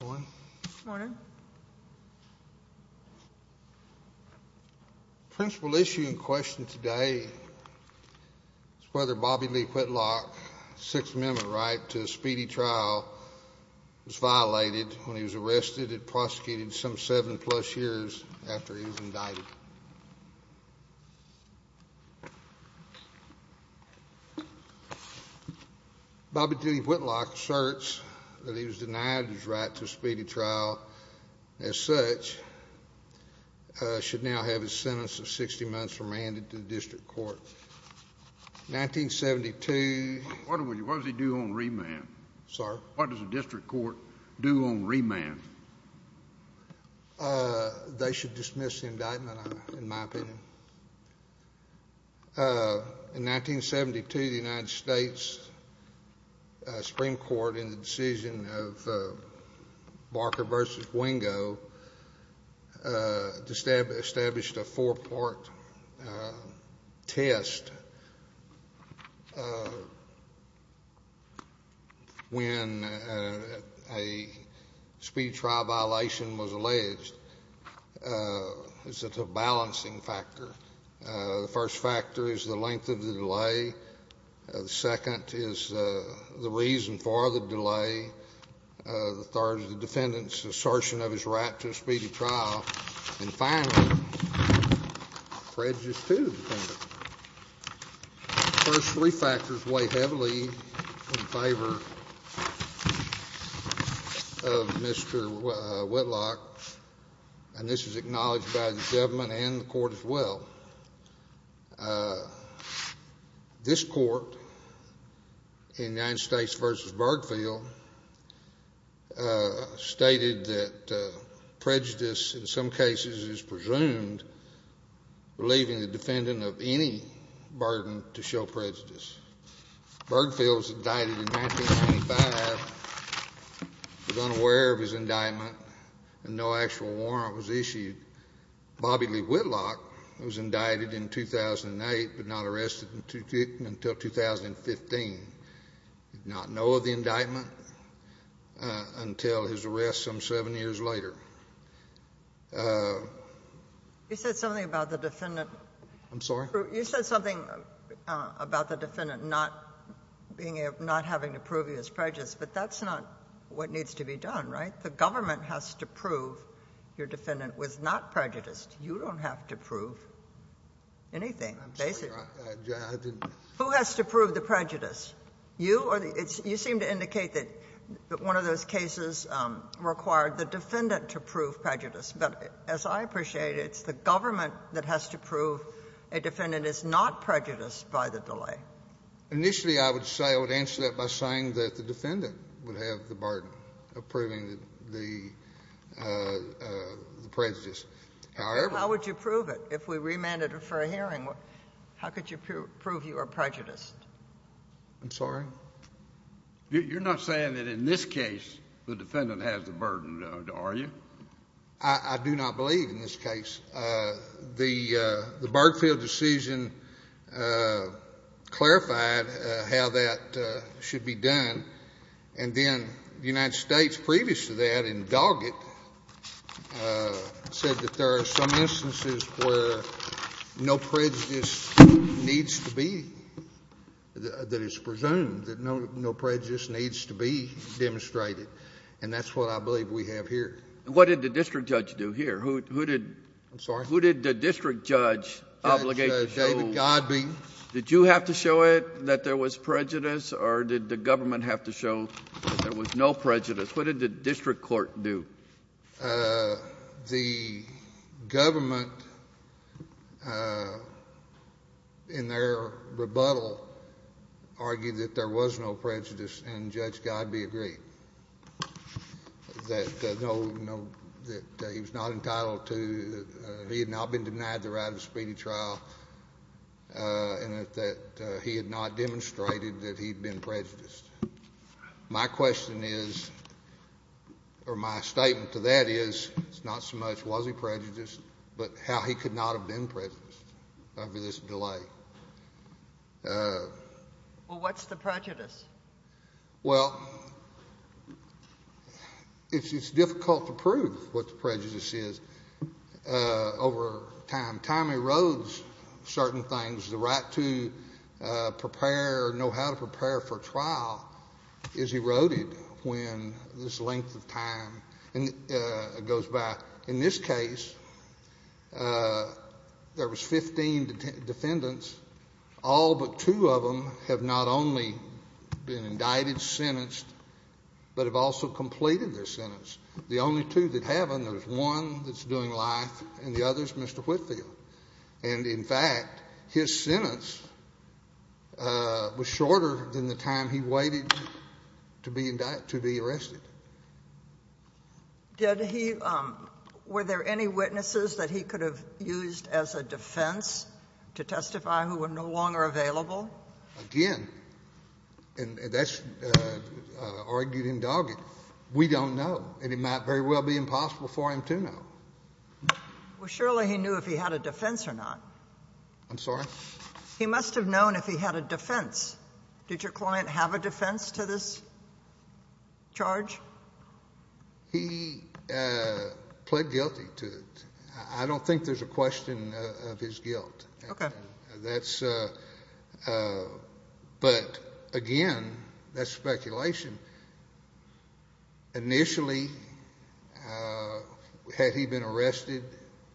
Good morning. Principal issue in question today is whether Bobby Lee Whitlock's Sixth Amendment right to a speedy trial was violated when he was arrested and prosecuted some seven plus years after he was indicted. Bobby Lee Whitlock asserts that he was denied his right to a speedy trial as such should now have his sentence of 60 months remanded to the district court. 1972. What does he do on remand? Sir? What does the district court do on remand? They should dismiss the indictment, in my opinion. In 1972, the United States Supreme Court, in the decision of Barker v. Wingo, established a four-part test when a speedy trial violation was alleged as a balancing factor. The first factor is the length of the delay, the second is the reason for the delay, the third is the defendant's assertion of his right to a speedy trial, and finally, prejudice, too, the defendant. The first three factors weigh heavily in favor of Mr. Whitlock, and this is acknowledged by the government and the court as well. This court, in United States v. Bergfield, stated that prejudice, in some cases, is presumed relieving the defendant of any burden to show prejudice. Bergfield was indicted in 1975, was unaware of his indictment, and no actual warrant was issued. Bobby Lee Whitlock was indicted in 2008 but not arrested until 2015, did not know of the indictment until his arrest some seven years later. You said something about the defendant not having to prove he was prejudiced, but that's not what needs to be done, right? If the government has to prove your defendant was not prejudiced, you don't have to prove anything, basically. Who has to prove the prejudice? You or the other? You seem to indicate that one of those cases required the defendant to prove prejudice, but as I appreciate it, it's the government that has to prove a defendant is not prejudiced by the delay. Initially, I would say, I would answer that by saying that the defendant would have to take the burden of proving the prejudice. However— How would you prove it? If we remanded it for a hearing, how could you prove you are prejudiced? I'm sorry? You're not saying that in this case, the defendant has the burden, are you? I do not believe in this case. The Bergfield decision clarified how that should be done. And then the United States, previous to that, in Doggett, said that there are some instances where no prejudice needs to be, that it's presumed that no prejudice needs to be demonstrated. And that's what I believe we have here. What did the district judge do here? Who did— I'm sorry? Who did the district judge obligate to show— Judge David Godbee. Did you have to show it that there was prejudice, or did the government have to show that there was no prejudice? What did the district court do? The government, in their rebuttal, argued that there was no prejudice, and Judge Godbee agreed, that he was not entitled to—he had not been denied the right of speedy trial, and that he had not demonstrated that he had been prejudiced. My question is, or my statement to that is, it's not so much was he prejudiced, but how he could not have been prejudiced over this delay. Well, what's the prejudice? Well, it's difficult to prove what the prejudice is over time. Time erodes certain things. The right to prepare or know how to prepare for trial is eroded when this length of time goes by. In this case, there was 15 defendants. All but two of them have not only been indicted, sentenced, but have also completed their sentence. The only two that haven't, there's one that's doing life, and the other's Mr. Whitfield. And, in fact, his sentence was shorter than the time he waited to be arrested. Did he—were there any witnesses that he could have used as a defense to testify who were no longer available? Again, and that's argued and dogged, we don't know. And it might very well be impossible for him to know. Well, surely he knew if he had a defense or not. I'm sorry? He must have known if he had a defense. Did your client have a defense to this charge? He pled guilty to it. I don't think there's a question of his guilt. Okay. Initially, had he been arrested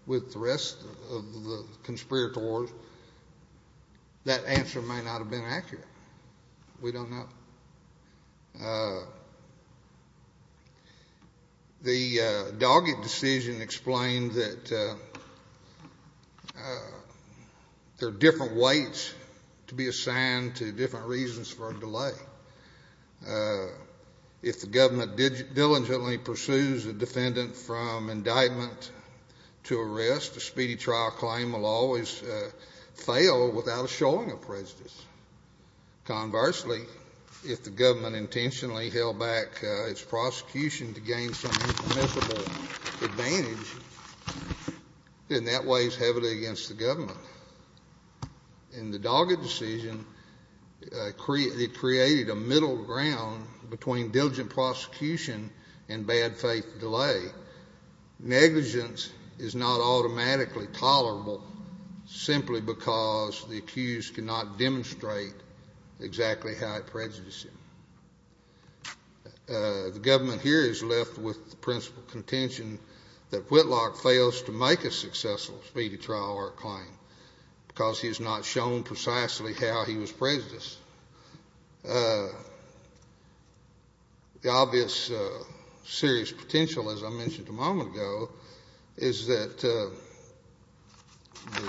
with the rest of the conspirators, that answer may not have been accurate. We don't know. The dogged decision explained that there are different weights to be assigned to different reasons for a delay. If the government diligently pursues a defendant from indictment to arrest, a speedy trial claim will always fail without a showing of prejudice. Conversely, if the government intentionally held back its prosecution to gain some miserable advantage, then that weighs heavily against the government. And the dogged decision created a middle ground between diligent prosecution and bad faith delay. Negligence is not automatically tolerable simply because the accused cannot demonstrate exactly how it prejudiced him. The government here is left with the principal contention that Whitlock fails to make a successful speedy trial or a claim because he has not shown precisely how he was prejudiced. The obvious serious potential, as I mentioned a moment ago, is that the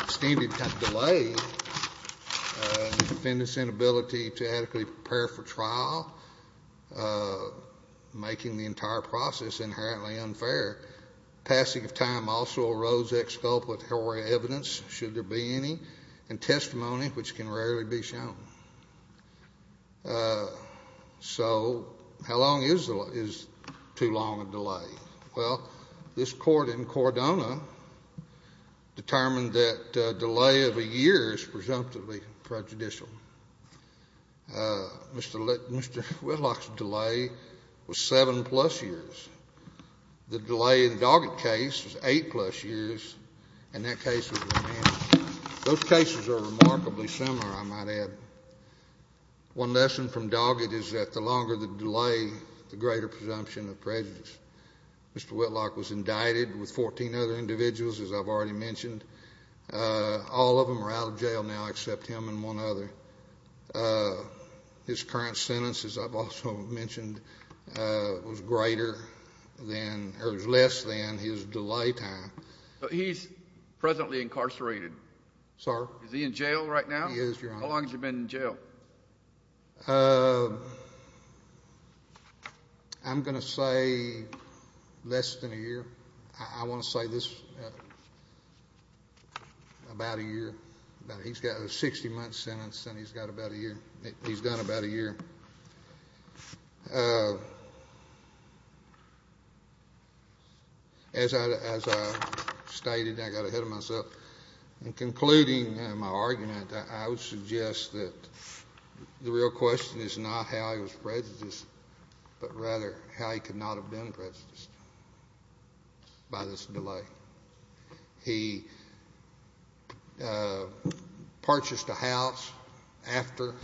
extended delay in the defendant's inability to adequately prepare for trial, making the entire process inherently unfair. Passing of time also arose exculpatory evidence, should there be any, and testimony which can rarely be shown. So how long is too long a delay? Well, this court in Cordona determined that a delay of a year is presumptively prejudicial. Mr. Whitlock's delay was seven-plus years. The delay in the Doggett case was eight-plus years. And that case was remanded. Those cases are remarkably similar, I might add. One lesson from Doggett is that the longer the delay, the greater presumption of prejudice. Mr. Whitlock was indicted with 14 other individuals, as I've already mentioned. All of them are out of jail now except him and one other. His current sentence, as I've also mentioned, was less than his delay time. He's presently incarcerated. Sorry? Is he in jail right now? He is, Your Honor. How long has he been in jail? I'm going to say less than a year. I want to say this, about a year. He's got a 60-month sentence, and he's got about a year. He's done about a year. As I stated, I got ahead of myself. In concluding my argument, I would suggest that the real question is not how he was prejudiced, but rather how he could not have been prejudiced by this delay. He purchased a house after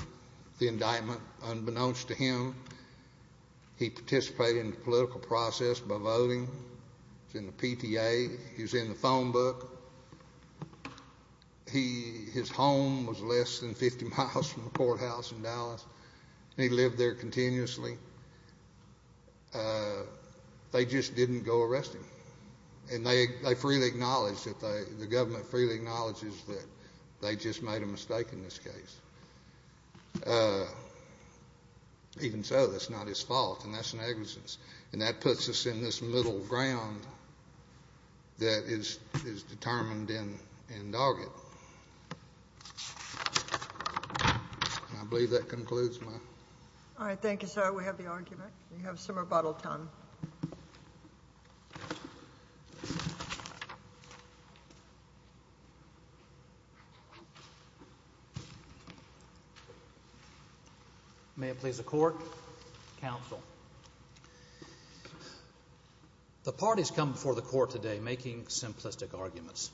the indictment. Unbeknownst to him, he participated in the political process by voting. He was in the PTA. He was in the phone book. His home was less than 50 miles from the courthouse in Dallas, and he lived there continuously. They just didn't go arrest him. They freely acknowledge that the government freely acknowledges that they just made a mistake in this case. Even so, that's not his fault, and that's negligence. That puts us in this middle ground that is determined in Doggett. I believe that concludes my argument. All right, thank you, sir. We have the argument. You have some rebuttal time. May it please the court. Counsel. The parties come before the court today making simplistic arguments.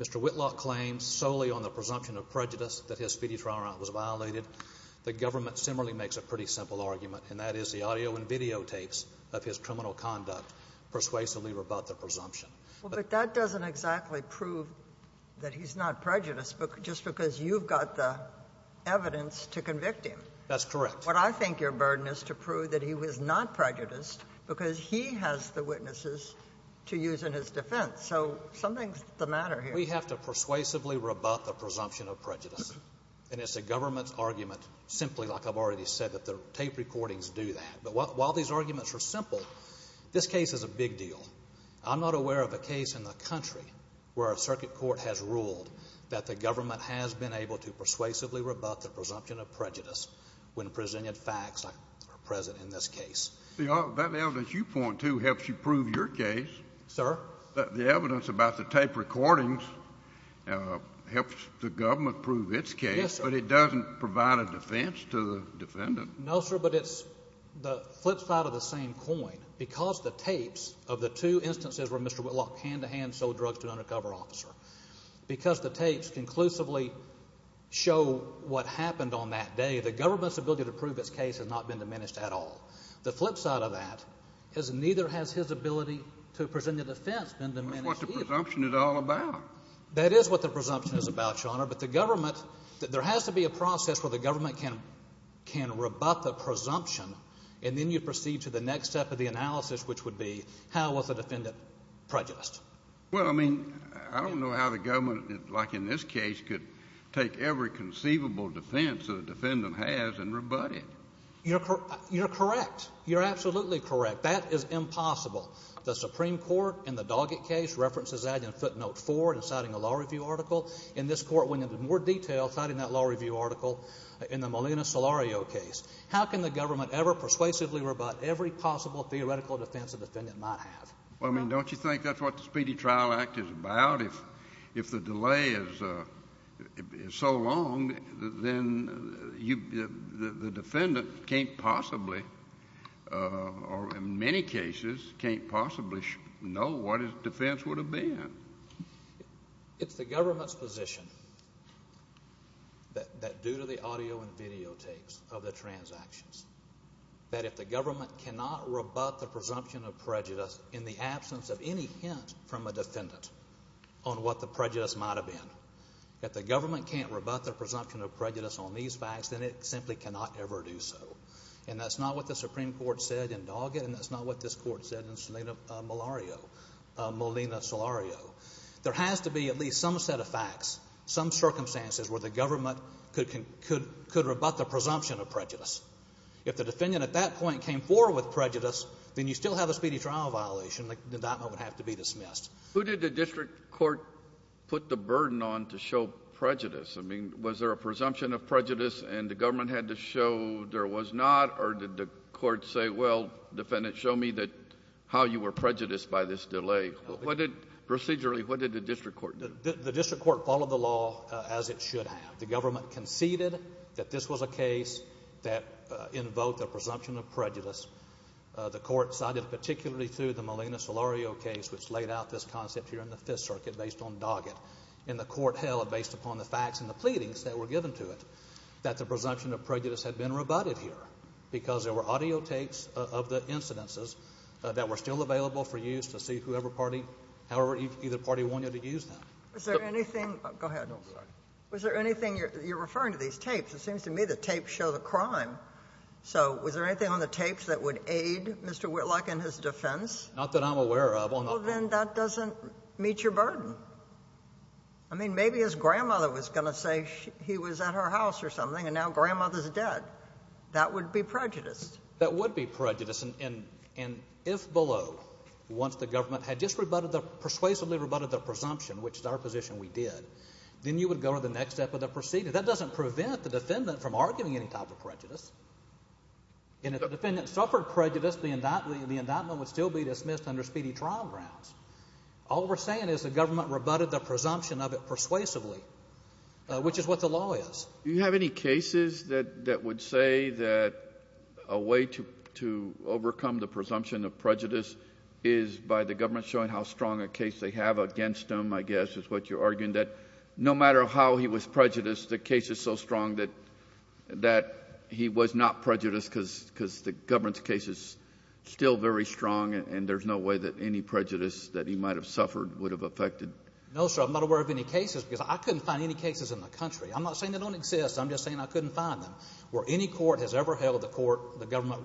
Mr. Whitlock claims solely on the presumption of prejudice that his fetus trial round was violated. The government similarly makes a pretty simple argument, and that is the audio and videotapes of his criminal conduct persuasively rebut the presumption. But that doesn't exactly prove that he's not prejudiced just because you've got the evidence to convict him. That's correct. What I think your burden is to prove that he was not prejudiced because he has the witnesses to use in his defense. So something's the matter here. We have to persuasively rebut the presumption of prejudice. And it's the government's argument simply, like I've already said, that the tape recordings do that. But while these arguments are simple, this case is a big deal. I'm not aware of a case in the country where a circuit court has ruled that the government has been able to persuasively rebut the presumption of prejudice when presented facts are present in this case. That evidence you point to helps you prove your case. Sir? The evidence about the tape recordings helps the government prove its case. Yes, sir. But it doesn't provide a defense to the defendant. No, sir, but it's the flip side of the same coin. Because the tapes of the two instances where Mr. Whitlock hand-to-hand sold drugs to an undercover officer, because the tapes conclusively show what happened on that day, the government's ability to prove its case has not been diminished at all. The flip side of that is neither has his ability to present a defense been diminished either. That's what the presumption is all about. That is what the presumption is about, Your Honor. But the government – there has to be a process where the government can rebut the presumption, and then you proceed to the next step of the analysis, which would be how was the defendant prejudiced. Well, I mean, I don't know how the government, like in this case, could take every conceivable defense that a defendant has and rebut it. You're correct. You're absolutely correct. That is impossible. The Supreme Court in the Doggett case references that in footnote 4 in citing a law review article. And this court went into more detail citing that law review article in the Molina-Solario case. How can the government ever persuasively rebut every possible theoretical defense a defendant might have? Well, I mean, don't you think that's what the Speedy Trial Act is about? If the delay is so long, then the defendant can't possibly or in many cases can't possibly know what his defense would have been. It's the government's position that due to the audio and videotapes of the transactions, that if the government cannot rebut the presumption of prejudice in the absence of any hint from a defendant on what the prejudice might have been, that the government can't rebut the presumption of prejudice on these facts, then it simply cannot ever do so. And that's not what the Supreme Court said in Doggett, and that's not what this court said in Molina-Solario. There has to be at least some set of facts, some circumstances where the government could rebut the presumption of prejudice. If the defendant at that point came forward with prejudice, then you still have a speedy trial violation. The indictment would have to be dismissed. Who did the district court put the burden on to show prejudice? I mean, was there a presumption of prejudice and the government had to show there was not, or did the court say, well, defendant, show me how you were prejudiced by this delay? Procedurally, what did the district court do? The district court followed the law as it should have. The government conceded that this was a case that invoked a presumption of prejudice. The court sided particularly through the Molina-Solario case, which laid out this concept here in the Fifth Circuit based on Doggett. And the court held, based upon the facts and the pleadings that were given to it, that the presumption of prejudice had been rebutted here because there were audio tapes of the incidences that were still available for use to see whoever party, however either party wanted to use them. Was there anything – go ahead. Was there anything – you're referring to these tapes. It seems to me the tapes show the crime. So was there anything on the tapes that would aid Mr. Whitlock in his defense? Not that I'm aware of. Well, then that doesn't meet your burden. I mean, maybe his grandmother was going to say he was at her house or something, and now grandmother's dead. That would be prejudice. That would be prejudice. And if below, once the government had just persuasively rebutted the presumption, which is our position we did, then you would go to the next step of the proceeding. That doesn't prevent the defendant from arguing any type of prejudice. And if the defendant suffered prejudice, the indictment would still be dismissed under speedy trial grounds. All we're saying is the government rebutted the presumption of it persuasively, which is what the law is. Do you have any cases that would say that a way to overcome the presumption of prejudice is by the government showing how strong a case they have against him, I guess, is what you're arguing, that no matter how he was prejudiced, the case is so strong that he was not prejudiced because the government's case is still very strong, and there's no way that any prejudice that he might have suffered would have affected. No, sir. I'm not aware of any cases because I couldn't find any cases in the country. I'm not saying they don't exist. I'm just saying I couldn't find them. Where any court has ever held the court, the government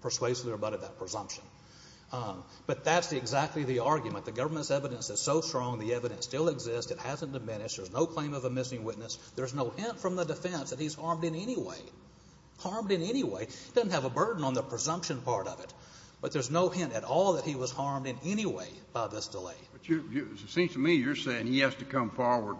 persuasively rebutted that presumption. But that's exactly the argument. The government's evidence is so strong, the evidence still exists. It hasn't diminished. There's no claim of a missing witness. There's no hint from the defense that he's harmed in any way, harmed in any way. It doesn't have a burden on the presumption part of it, but there's no hint at all that he was harmed in any way by this delay. It seems to me you're saying he has to come forward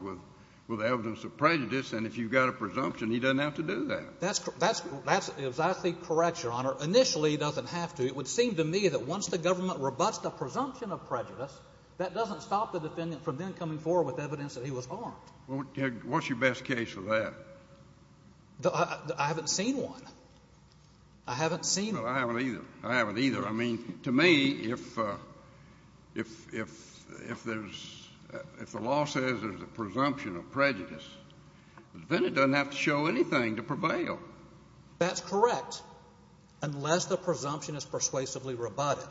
with evidence of prejudice, and if you've got a presumption, he doesn't have to do that. That's exactly correct, Your Honor. Initially, he doesn't have to. It would seem to me that once the government rebuts the presumption of prejudice, that doesn't stop the defendant from then coming forward with evidence that he was harmed. What's your best case for that? I haven't seen one. I haven't seen one. I haven't either. I haven't either. I mean, to me, if the law says there's a presumption of prejudice, the defendant doesn't have to show anything to prevail. That's correct, unless the presumption is persuasively rebutted.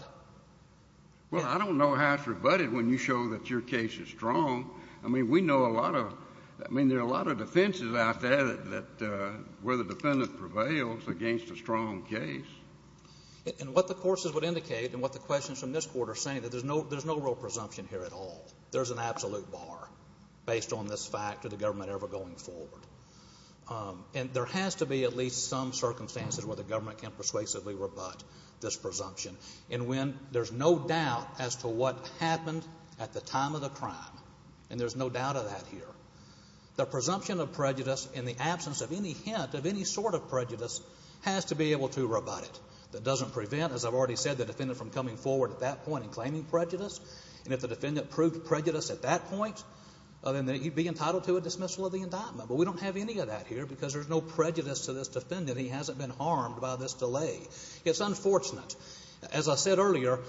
Well, I don't know how it's rebutted when you show that your case is strong. I mean, we know a lot of them. I mean, there are a lot of defenses out there where the defendant prevails against a strong case. And what the courses would indicate and what the questions from this court are saying, that there's no real presumption here at all. There's an absolute bar based on this fact of the government ever going forward. And there has to be at least some circumstances where the government can persuasively rebut this presumption. And when there's no doubt as to what happened at the time of the crime, and there's no doubt of that here, the presumption of prejudice in the absence of any hint of any sort of prejudice has to be able to rebut it. That doesn't prevent, as I've already said, the defendant from coming forward at that point and claiming prejudice. And if the defendant proved prejudice at that point, then he'd be entitled to a dismissal of the indictment. But we don't have any of that here because there's no prejudice to this defendant. He hasn't been harmed by this delay. It's unfortunate. As I said earlier,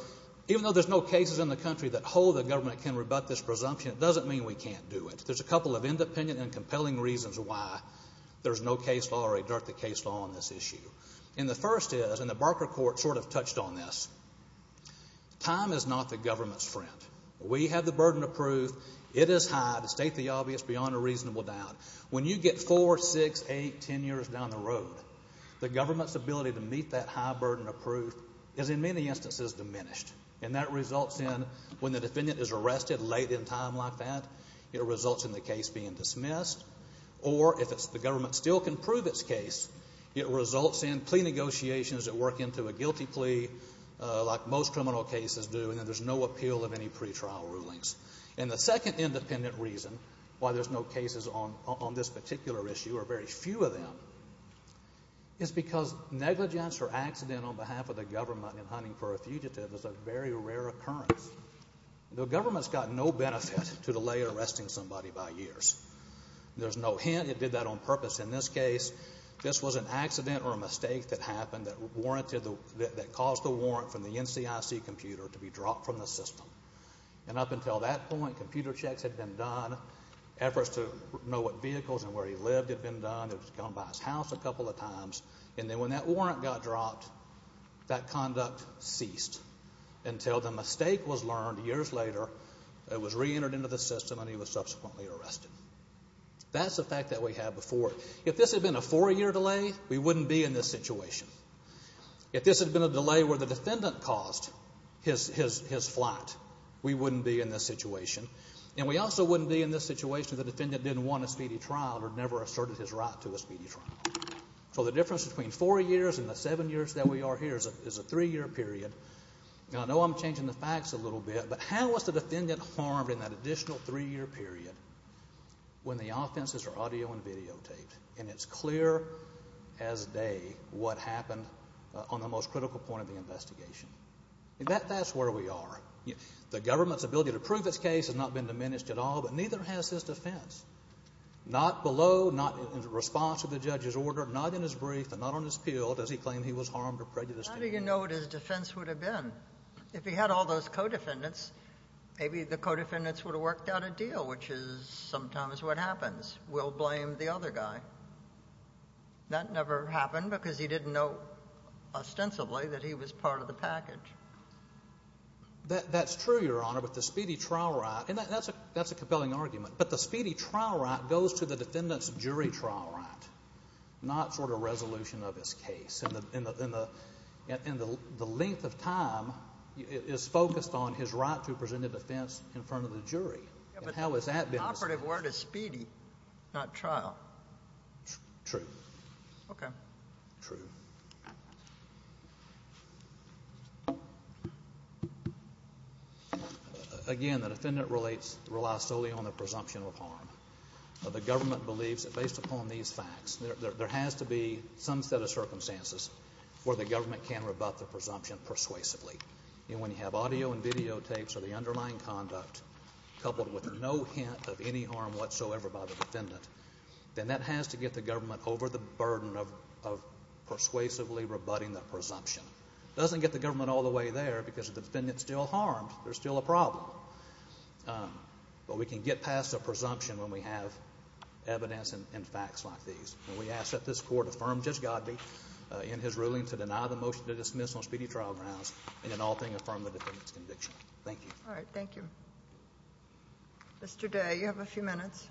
even though there's no cases in the country that hold the government can rebut this presumption, it doesn't mean we can't do it. There's a couple of independent and compelling reasons why there's no case law or a direct-to-case law on this issue. And the first is, and the Barker Court sort of touched on this, time is not the government's friend. We have the burden of proof. It is high, to state the obvious, beyond a reasonable doubt. When you get four, six, eight, ten years down the road, the government's ability to meet that high burden of proof is in many instances diminished. And that results in when the defendant is arrested late in time like that, it results in the case being dismissed. Or if the government still can prove its case, it results in plea negotiations that work into a guilty plea like most criminal cases do, and then there's no appeal of any pretrial rulings. And the second independent reason why there's no cases on this particular issue, or very few of them, is because negligence or accident on behalf of the government in hunting for a fugitive is a very rare occurrence. The government's got no benefit to delay arresting somebody by years. There's no hint it did that on purpose. In this case, this was an accident or a mistake that happened that warranted the, that caused the warrant from the NCIC computer to be dropped from the system. And up until that point, computer checks had been done, efforts to know what vehicles and where he lived had been done. It was done by his house a couple of times, and then when that warrant got dropped, that conduct ceased until the mistake was learned years later. It was reentered into the system, and he was subsequently arrested. That's the fact that we have before. If this had been a four-year delay, we wouldn't be in this situation. If this had been a delay where the defendant caused his flight, we wouldn't be in this situation. And we also wouldn't be in this situation if the defendant didn't want a speedy trial or never asserted his right to a speedy trial. So the difference between four years and the seven years that we are here is a three-year period. Now, I know I'm changing the facts a little bit, but how is the defendant harmed in that additional three-year period when the offenses are audio and videotaped and it's clear as day what happened on the most critical point of the investigation? That's where we are. The government's ability to prove its case has not been diminished at all, but neither has his defense. Not below, not in response to the judge's order, not in his brief, and not on his appeal does he claim he was harmed or prejudiced. How do you know what his defense would have been? If he had all those co-defendants, maybe the co-defendants would have worked out a deal, which is sometimes what happens. We'll blame the other guy. That never happened because he didn't know ostensibly that he was part of the package. That's true, Your Honor, but the speedy trial right, and that's a compelling argument, but the speedy trial right goes to the defendant's jury trial right, not sort of resolution of his case, and the length of time is focused on his right to a presented offense in front of the jury. But the operative word is speedy, not trial. True. Okay. True. Again, the defendant relies solely on the presumption of harm. The government believes that based upon these facts, there has to be some set of circumstances where the government can rebut the presumption persuasively. And when you have audio and videotapes of the underlying conduct coupled with no hint of any harm whatsoever by the defendant, then that has to get the government over the burden of persuasively rebutting the presumption. It doesn't get the government all the way there because the defendant's still harmed. There's still a problem. But we can get past the presumption when we have evidence and facts like these. And we ask that this Court affirm Judge Godbee in his ruling to deny the motion to dismiss on speedy trial grounds and in all things affirm the defendant's conviction. Thank you. All right. Thank you. Mr. Day, you have a few minutes.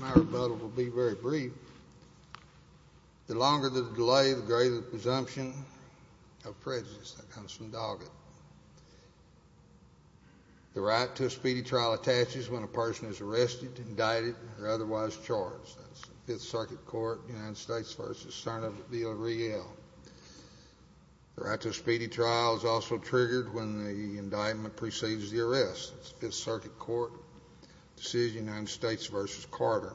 My rebuttal will be very brief. The longer the delay, the greater the presumption of prejudice that comes from Doggett. The right to a speedy trial attaches when a person is arrested, indicted, or otherwise charged. That's the Fifth Circuit Court, United States v. Sernoff v. O'Reilly. The right to a speedy trial is also triggered when the indictment precedes the arrest. That's the Fifth Circuit Court decision, United States v. Carter.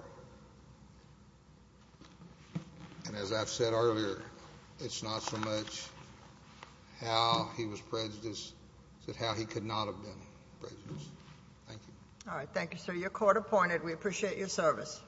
And as I've said earlier, it's not so much how he was prejudiced as how he could not have been prejudiced. Thank you. All right. Thank you, sir. You're court-appointed. We appreciate your service.